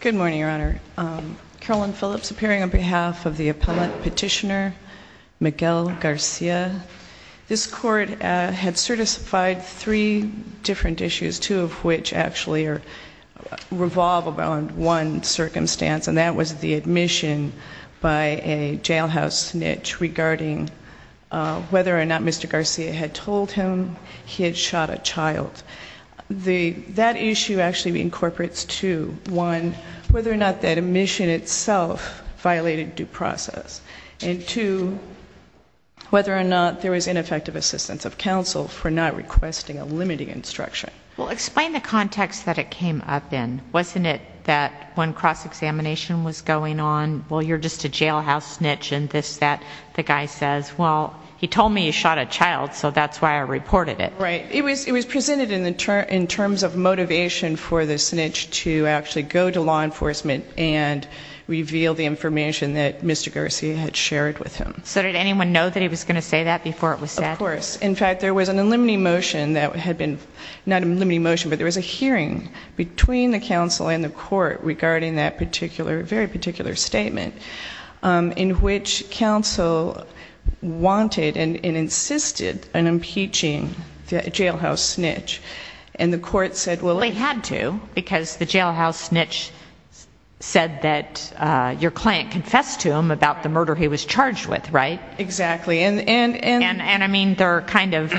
Good morning, Your Honor. Carolyn Phillips appearing on behalf of the appellate petitioner, Miguel Garcia. This court had certified three different issues, two of which actually revolve around one circumstance, and that was the admission by a jailhouse snitch regarding whether or not Mr. Garcia had told him he had shot a child. That issue actually incorporates two, one, whether or not that admission itself violated due process, and two, whether or not there was ineffective assistance of counsel for not requesting a limiting instruction. Well, explain the context that it came up in. Wasn't it that when cross-examination was going on, well, you're just a jailhouse snitch, and this, that. The guy says, well, he told me he shot a child, so that's why I reported it. Right. It was presented in terms of motivation for the snitch to actually go to law enforcement and reveal the information that Mr. Garcia had shared with him. So did anyone know that he was going to say that before it was said? Of course. In fact, there was an unlimiting motion that had been, not an unlimiting motion, but there was a hearing between the counsel and the court regarding that particular, very particular statement, in which counsel wanted and insisted on impeaching the jailhouse snitch. And the court said, well. They had to, because the jailhouse snitch said that your client confessed to him about the murder he was charged with, right? Exactly. And. And I mean, they're kind of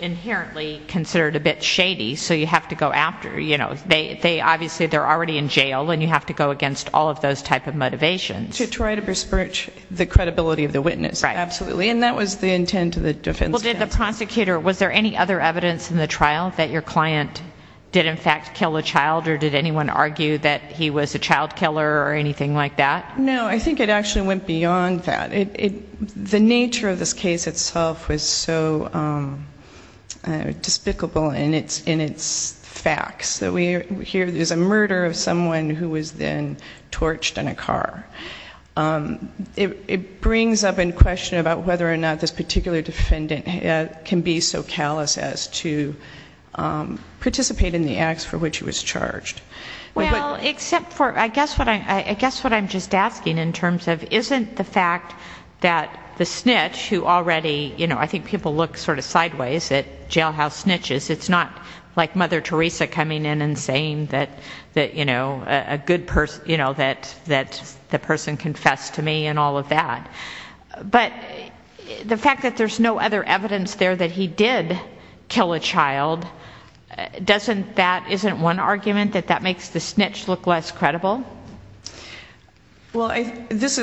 inherently considered a bit shady, so you have to go after, you know, they obviously, they're already in jail, and you have to go against all of those type of motivations. To try to besmirch the credibility of the witness. Right. Absolutely. And that was the intent of the defense counsel. Well, did the prosecutor, was there any other evidence in the trial that your client did in fact kill a child, or did anyone argue that he was a child killer or anything like that? No, I think it actually went beyond that. The nature of this case itself was so despicable in its facts, that we hear there's a murder of someone who was then torched in a car. It brings up in question about whether or not this particular defendant can be so callous as to participate in the acts for which he was charged. Well, except for, I guess what I'm just asking in terms of isn't the fact that the snitch, who already, you know, I think people look sort of sideways at jailhouse snitches. It's not like Mother Teresa coming in and saying that, you know, a good person, you know, that the person confessed to me and all of that. But the fact that there's no other evidence there that he did kill a child, that isn't one argument that that makes the snitch look less credible? Well, this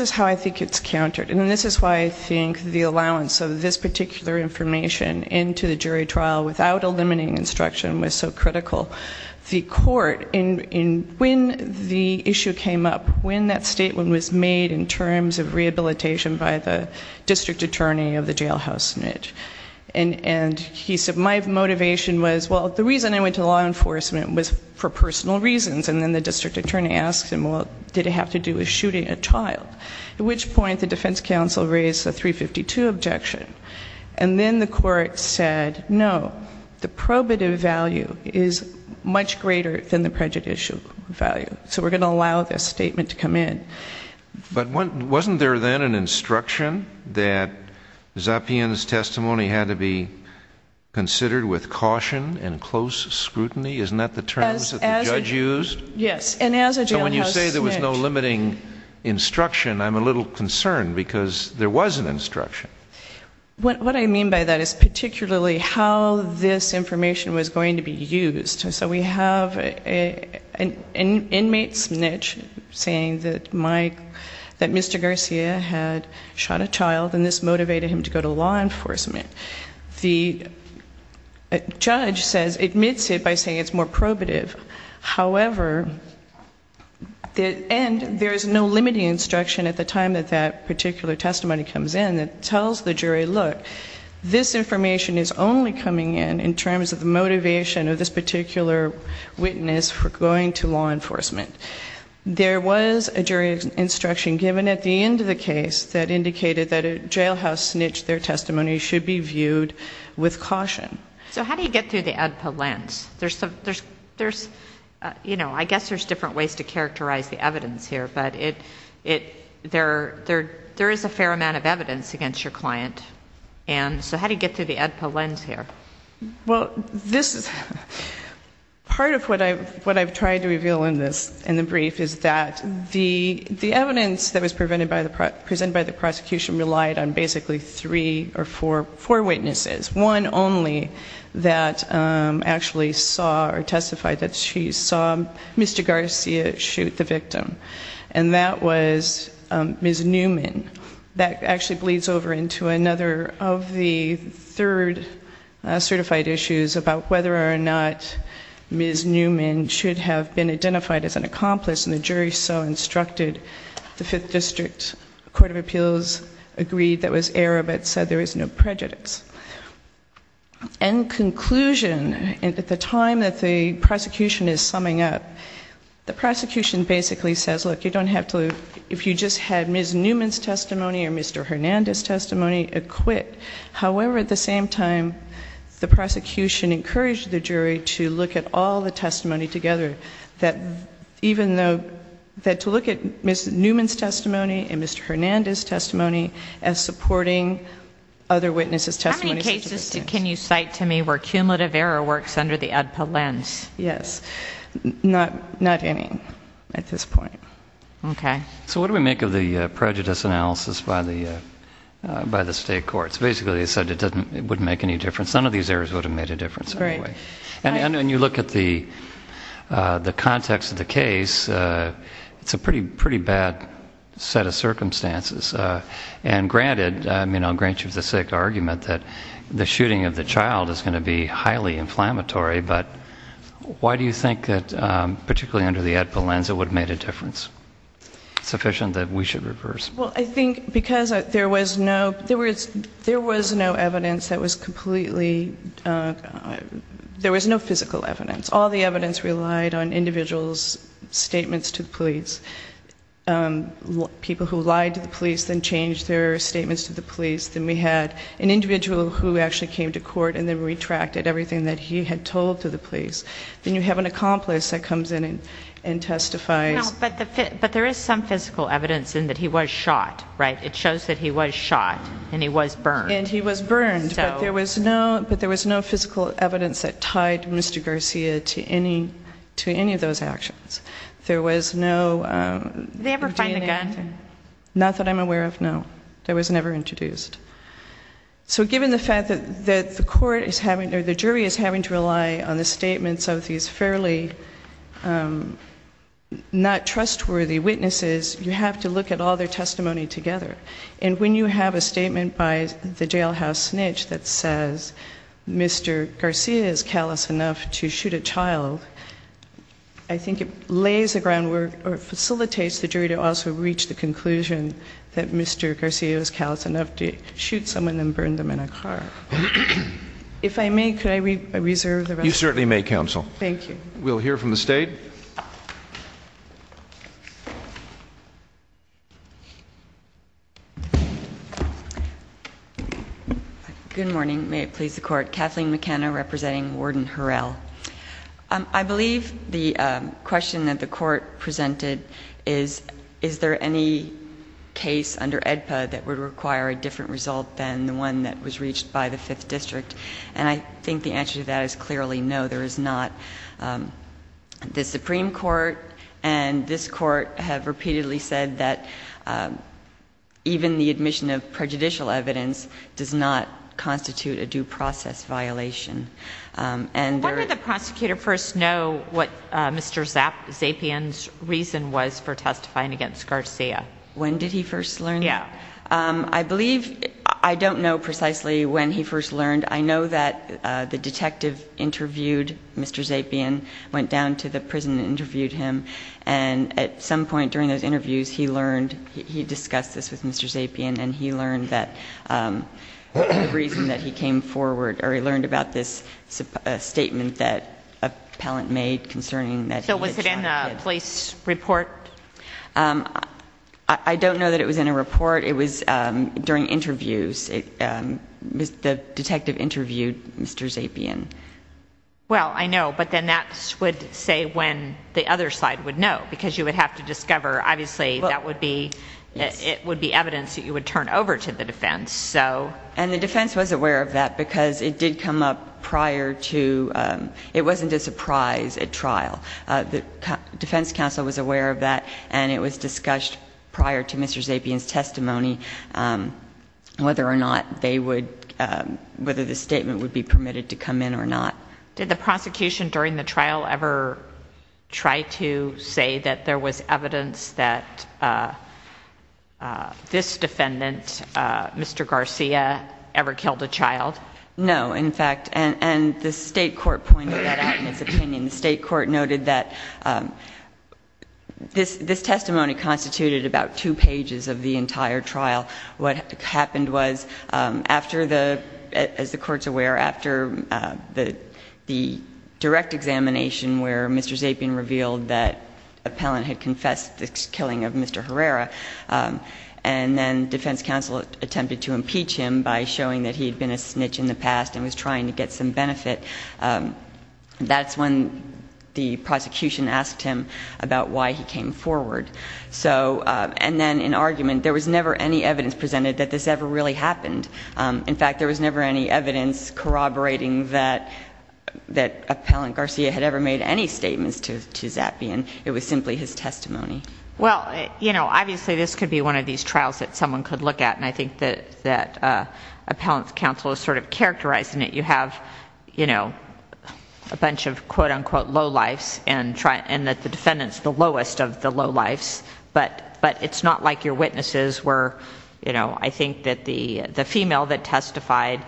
is how I think it's countered, and this is why I think the allowance of this particular information into the jury trial without eliminating instruction was so critical. The court, when the issue came up, when that statement was made in terms of rehabilitation by the district attorney of the jailhouse snitch, and he said my motivation was, well, the reason I went to law enforcement was for personal reasons, and then the district attorney asked him, well, did it have to do with shooting a child? At which point the defense counsel raised a 352 objection, and then the court said, no, the probative value is much greater than the prejudicial value, so we're going to allow this statement to come in. But wasn't there then an instruction that Zapien's testimony had to be considered with caution and close scrutiny? Isn't that the term the judge used? Yes, and as a jailhouse snitch. So when you say there was no limiting instruction, I'm a little concerned because there was an instruction. What I mean by that is particularly how this information was going to be used. So we have an inmate snitch saying that Mr. Garcia had shot a child, and this motivated him to go to law enforcement. The judge says, admits it by saying it's more probative. However, and there is no limiting instruction at the time that that particular testimony comes in that tells the jury, look, this information is only coming in in terms of the motivation of this particular witness for going to law enforcement. There was a jury instruction given at the end of the case that indicated that a jailhouse snitch, their testimony should be viewed with caution. So how do you get through the ADPA lens? There's, you know, I guess there's different ways to characterize the evidence here, but there is a fair amount of evidence against your client. And so how do you get through the ADPA lens here? Well, this is part of what I've tried to reveal in this, in the brief, is that the evidence that was presented by the prosecution relied on basically three or four witnesses, one only that actually saw or testified that she saw Mr. Garcia shoot the victim. And that was Ms. Newman. That actually bleeds over into another of the third certified issues about whether or not Ms. Newman should have been identified as an accomplice, and the jury so instructed. The Fifth District Court of Appeals agreed that was error, but said there was no prejudice. In conclusion, at the time that the prosecution is summing up, the prosecution basically says, look, you don't have to, if you just had Ms. Newman's testimony or Mr. Hernandez's testimony, acquit. However, at the same time, the prosecution encouraged the jury to look at all the testimony together, that to look at Ms. Newman's testimony and Mr. Hernandez's testimony as supporting other witnesses' testimonies. How many cases can you cite to me where cumulative error works under the ADPA lens? Yes. Not any at this point. Okay. So what do we make of the prejudice analysis by the state courts? Basically, they said it wouldn't make any difference. None of these errors would have made a difference anyway. And when you look at the context of the case, it's a pretty bad set of circumstances. And granted, I'll grant you the argument that the shooting of the child is going to be highly inflammatory, but why do you think that particularly under the ADPA lens it would have made a difference? It's sufficient that we should reverse. Well, I think because there was no evidence that was completely, there was no physical evidence. All the evidence relied on individuals' statements to the police. People who lied to the police then changed their statements to the police. Then we had an individual who actually came to court and then retracted everything that he had told to the police. Then you have an accomplice that comes in and testifies. But there is some physical evidence in that he was shot, right? It shows that he was shot and he was burned. And he was burned. But there was no physical evidence that tied Mr. Garcia to any of those actions. Did they ever find the gun? Not that I'm aware of, no. That was never introduced. So given the fact that the court is having, or the jury is having to rely on the statements of these fairly not trustworthy witnesses, you have to look at all their testimony together. And when you have a statement by the jailhouse snitch that says Mr. Garcia is callous enough to shoot a child, I think it lays the groundwork or facilitates the jury to also reach the conclusion that Mr. Garcia is callous enough to shoot someone and burn them in a car. If I may, could I reserve the rest of the time? You certainly may, Counsel. Thank you. We'll hear from the State. Good morning. May it please the Court. Kathleen McKenna representing Warden Harrell. I believe the question that the Court presented is, is there any case under AEDPA that would require a different result than the one that was reached by the Fifth District? And I think the answer to that is clearly no, there is not. The Supreme Court and this Court have repeatedly said that even the admission of prejudicial evidence does not constitute a due process violation. When did the prosecutor first know what Mr. Zapian's reason was for testifying against Garcia? When did he first learn? Yeah. I believe, I don't know precisely when he first learned. I know that the detective interviewed Mr. Zapian, went down to the prison and interviewed him, and at some point during those interviews he learned, he discussed this with Mr. Zapian, and he learned that the reason that he came forward, or he learned about this statement that an appellant made concerning that he had shot him. So was it in a police report? I don't know that it was in a report. It was during interviews. The detective interviewed Mr. Zapian. Well, I know, but then that would say when the other side would know, because you would have to discover, obviously, it would be evidence that you would turn over to the defense. And the defense was aware of that because it did come up prior to, it wasn't a surprise at trial. The defense counsel was aware of that, and it was discussed prior to Mr. Zapian's testimony whether or not they would, whether the statement would be permitted to come in or not. Did the prosecution during the trial ever try to say that there was evidence that this defendant, Mr. Garcia, ever killed a child? No, in fact, and the state court pointed that out in its opinion. The state court noted that this testimony constituted about two pages of the entire trial. What happened was, as the court's aware, after the direct examination where Mr. Zapian revealed that the appellant had confessed the killing of Mr. Herrera, and then defense counsel attempted to impeach him by showing that he had been a snitch in the past and was trying to get some benefit, that's when the prosecution asked him about why he came forward. So, and then in argument, there was never any evidence presented that this ever really happened. In fact, there was never any evidence corroborating that appellant Garcia had ever made any statements to Zapian. It was simply his testimony. Well, you know, obviously, this could be one of these trials that someone could look at, and I think that appellant's counsel is sort of characterizing it. You have, you know, a bunch of quote, unquote, lowlifes, and that the defendant's the lowest of the lowlifes, but it's not like your witnesses were, you know, I think that the female that testified,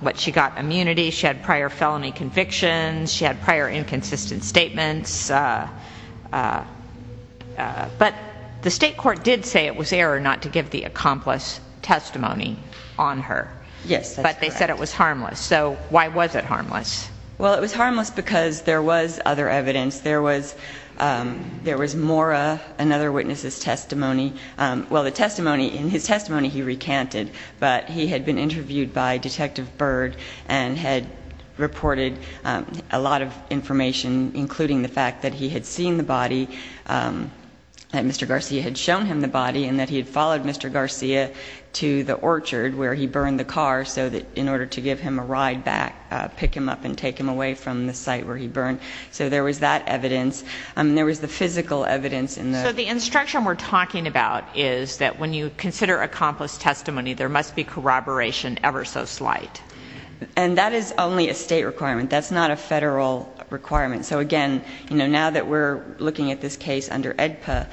what, she got immunity, she had prior felony convictions, she had prior inconsistent statements. But the state court did say it was error not to give the accomplice testimony on her. Yes, that's correct. It was harmless. So why was it harmless? Well, it was harmless because there was other evidence. There was Mora, another witness's testimony. Well, the testimony, in his testimony he recanted, but he had been interviewed by Detective Bird and had reported a lot of information, including the fact that he had seen the body, that Mr. Garcia had shown him the body, and that he had followed Mr. Garcia to the orchard where he burned the car so that in order to give him a ride back, pick him up and take him away from the site where he burned. So there was that evidence. There was the physical evidence. So the instruction we're talking about is that when you consider accomplice testimony, there must be corroboration ever so slight. And that is only a state requirement. That's not a federal requirement. So, again, you know, now that we're looking at this case under AEDPA,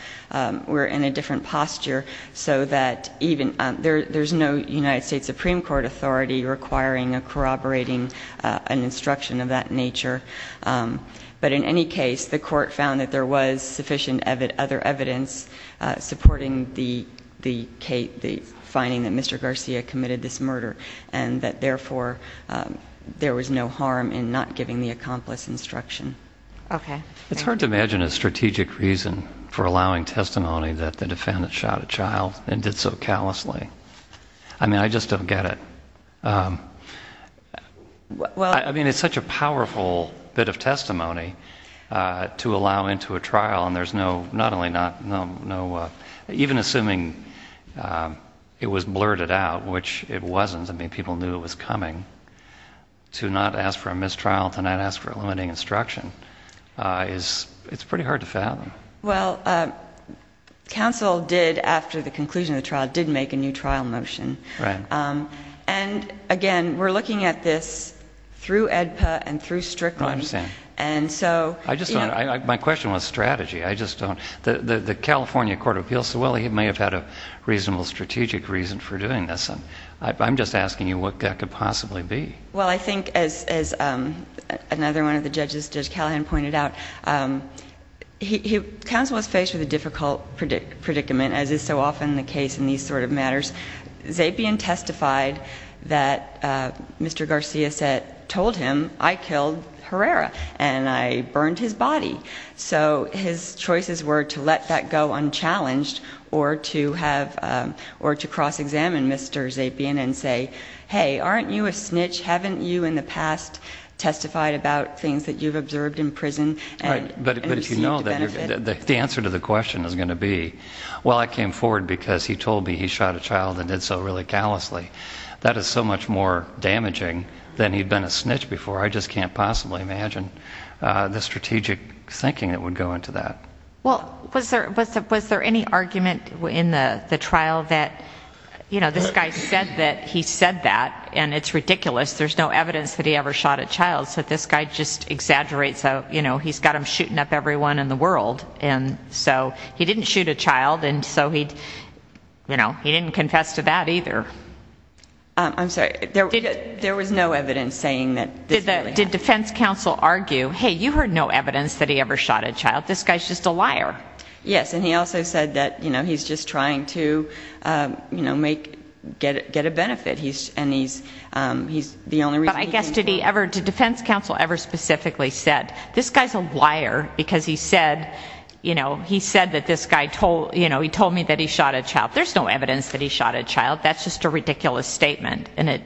we're in a different posture so that there's no United States Supreme Court authority requiring or corroborating an instruction of that nature. But in any case, the court found that there was sufficient other evidence supporting the finding that Mr. Garcia committed this murder and that, therefore, there was no harm in not giving the accomplice instruction. It's hard to imagine a strategic reason for allowing testimony that the defendant shot a child and did so callously. I mean, I just don't get it. I mean, it's such a powerful bit of testimony to allow into a trial, and there's no... not only not... even assuming it was blurted out, which it wasn't. I mean, people knew it was coming. To not ask for a mistrial, to not ask for a limiting instruction, it's pretty hard to fathom. Well, counsel did, after the conclusion of the trial, did make a new trial motion. Right. And, again, we're looking at this through AEDPA and through Strickland. I understand. And so... I just don't... my question was strategy. I just don't... the California Court of Appeals said, well, he may have had a reasonable strategic reason for doing this. I'm just asking you what that could possibly be. Well, I think, as another one of the judges, Judge Callahan, pointed out, counsel was faced with a difficult predicament, as is so often the case in these sort of matters. Zapian testified that Mr. Garcia said, told him, I killed Herrera, and I burned his body. So his choices were to let that go unchallenged or to cross-examine Mr. Zapian and say, hey, aren't you a snitch? Haven't you, in the past, testified about things that you've observed in prison and received a benefit? But if you know that, the answer to the question is going to be, well, I came forward because he told me he shot a child and did so really callously. That is so much more damaging than he'd been a snitch before. I just can't possibly imagine the strategic thinking that would go into that. Well, was there any argument in the trial that, you know, this guy said that he said that, and it's ridiculous. There's no evidence that he ever shot a child. So this guy just exaggerates, you know, he's got them shooting up everyone in the world. And so he didn't shoot a child, and so he, you know, he didn't confess to that either. I'm sorry, there was no evidence saying that. Did defense counsel argue, hey, you heard no evidence that he ever shot a child. This guy's just a liar. Yes, and he also said that, you know, he's just trying to, you know, make, get a benefit. And he's, he's the only reason. But I guess did he ever, did defense counsel ever specifically said, this guy's a liar because he said, you know, he said that this guy told, you know, he told me that he shot a child. There's no evidence that he shot a child. That's just a ridiculous statement. And it,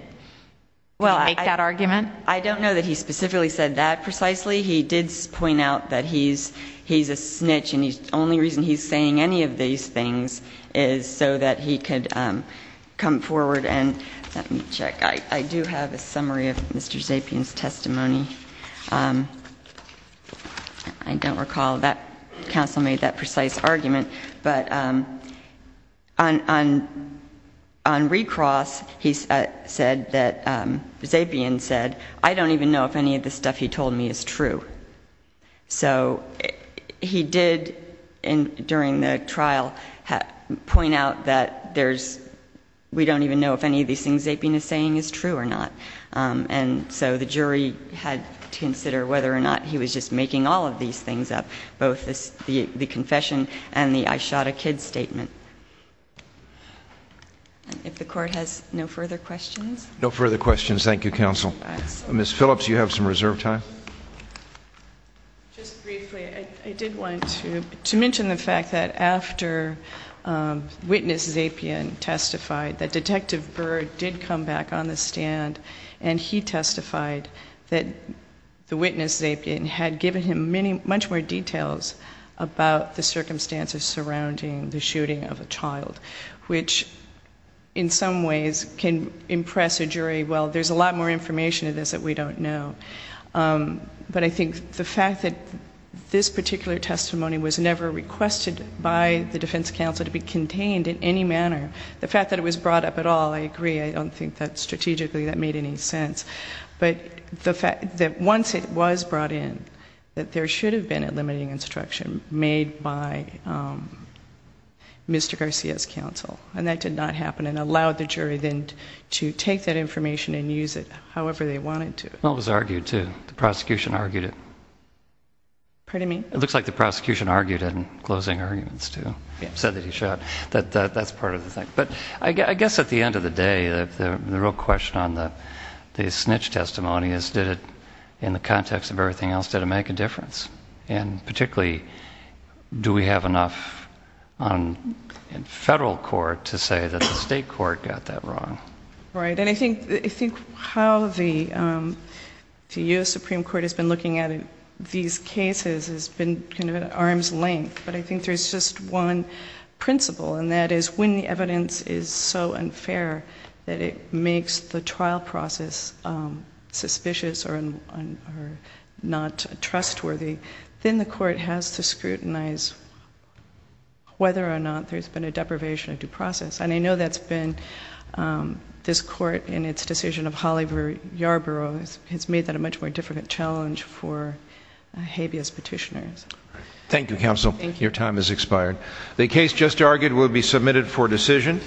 did he make that argument? Well, I don't know that he specifically said that precisely. He did point out that he's, he's a snitch, and he's, the only reason he's saying any of these things is so that he could come forward. And let me check. I do have a summary of Mr. Zapien's testimony. I don't recall that counsel made that precise argument. But on, on, on recross, he said that, Zapien said, I don't even know if any of the stuff he told me is true. So he did, during the trial, point out that there's, we don't even know if any of these things Zapien is saying is true or not. And so the jury had to consider whether or not he was just making all of these things up, both the confession and the I shot a kid statement. If the court has no further questions. No further questions. Thank you, counsel. Ms. Phillips, you have some reserve time. Just briefly, I did want to, to mention the fact that after witness Zapien testified, that Detective Burr did come back on the stand, and he testified that the witness Zapien had given him many, much more details about the circumstances surrounding the shooting of a child, which in some ways can impress a jury, well, there's a lot more information in this that we don't know. But I think the fact that this particular testimony was never requested by the defense counsel to be contained in any manner, the fact that it was brought up at all, I agree, I don't think that strategically that made any sense. But the fact that once it was brought in, that there should have been a limiting instruction made by Mr. Garcia's counsel, and that did not happen and allowed the jury then to take that information and use it however they wanted to. Well, it was argued, too. The prosecution argued it. Pardon me? It looks like the prosecution argued it in closing arguments, too. Said that he shot. That's part of the thing. But I guess at the end of the day, the real question on the snitch testimony is, did it, in the context of everything else, did it make a difference? And particularly, do we have enough in federal court to say that the state court got that wrong? Right. And I think how the U.S. Supreme Court has been looking at these cases has been kind of at arm's length. But I think there's just one principle, and that is when the evidence is so unfair that it makes the trial process suspicious or not trustworthy, then the court has to scrutinize whether or not there's been a deprivation of due process. And I know that's been, this court in its decision of Holliver-Yarborough has made that a much more difficult challenge for habeas petitioners. Thank you, counsel. Thank you. Your time has expired. The case just argued will be submitted for decision.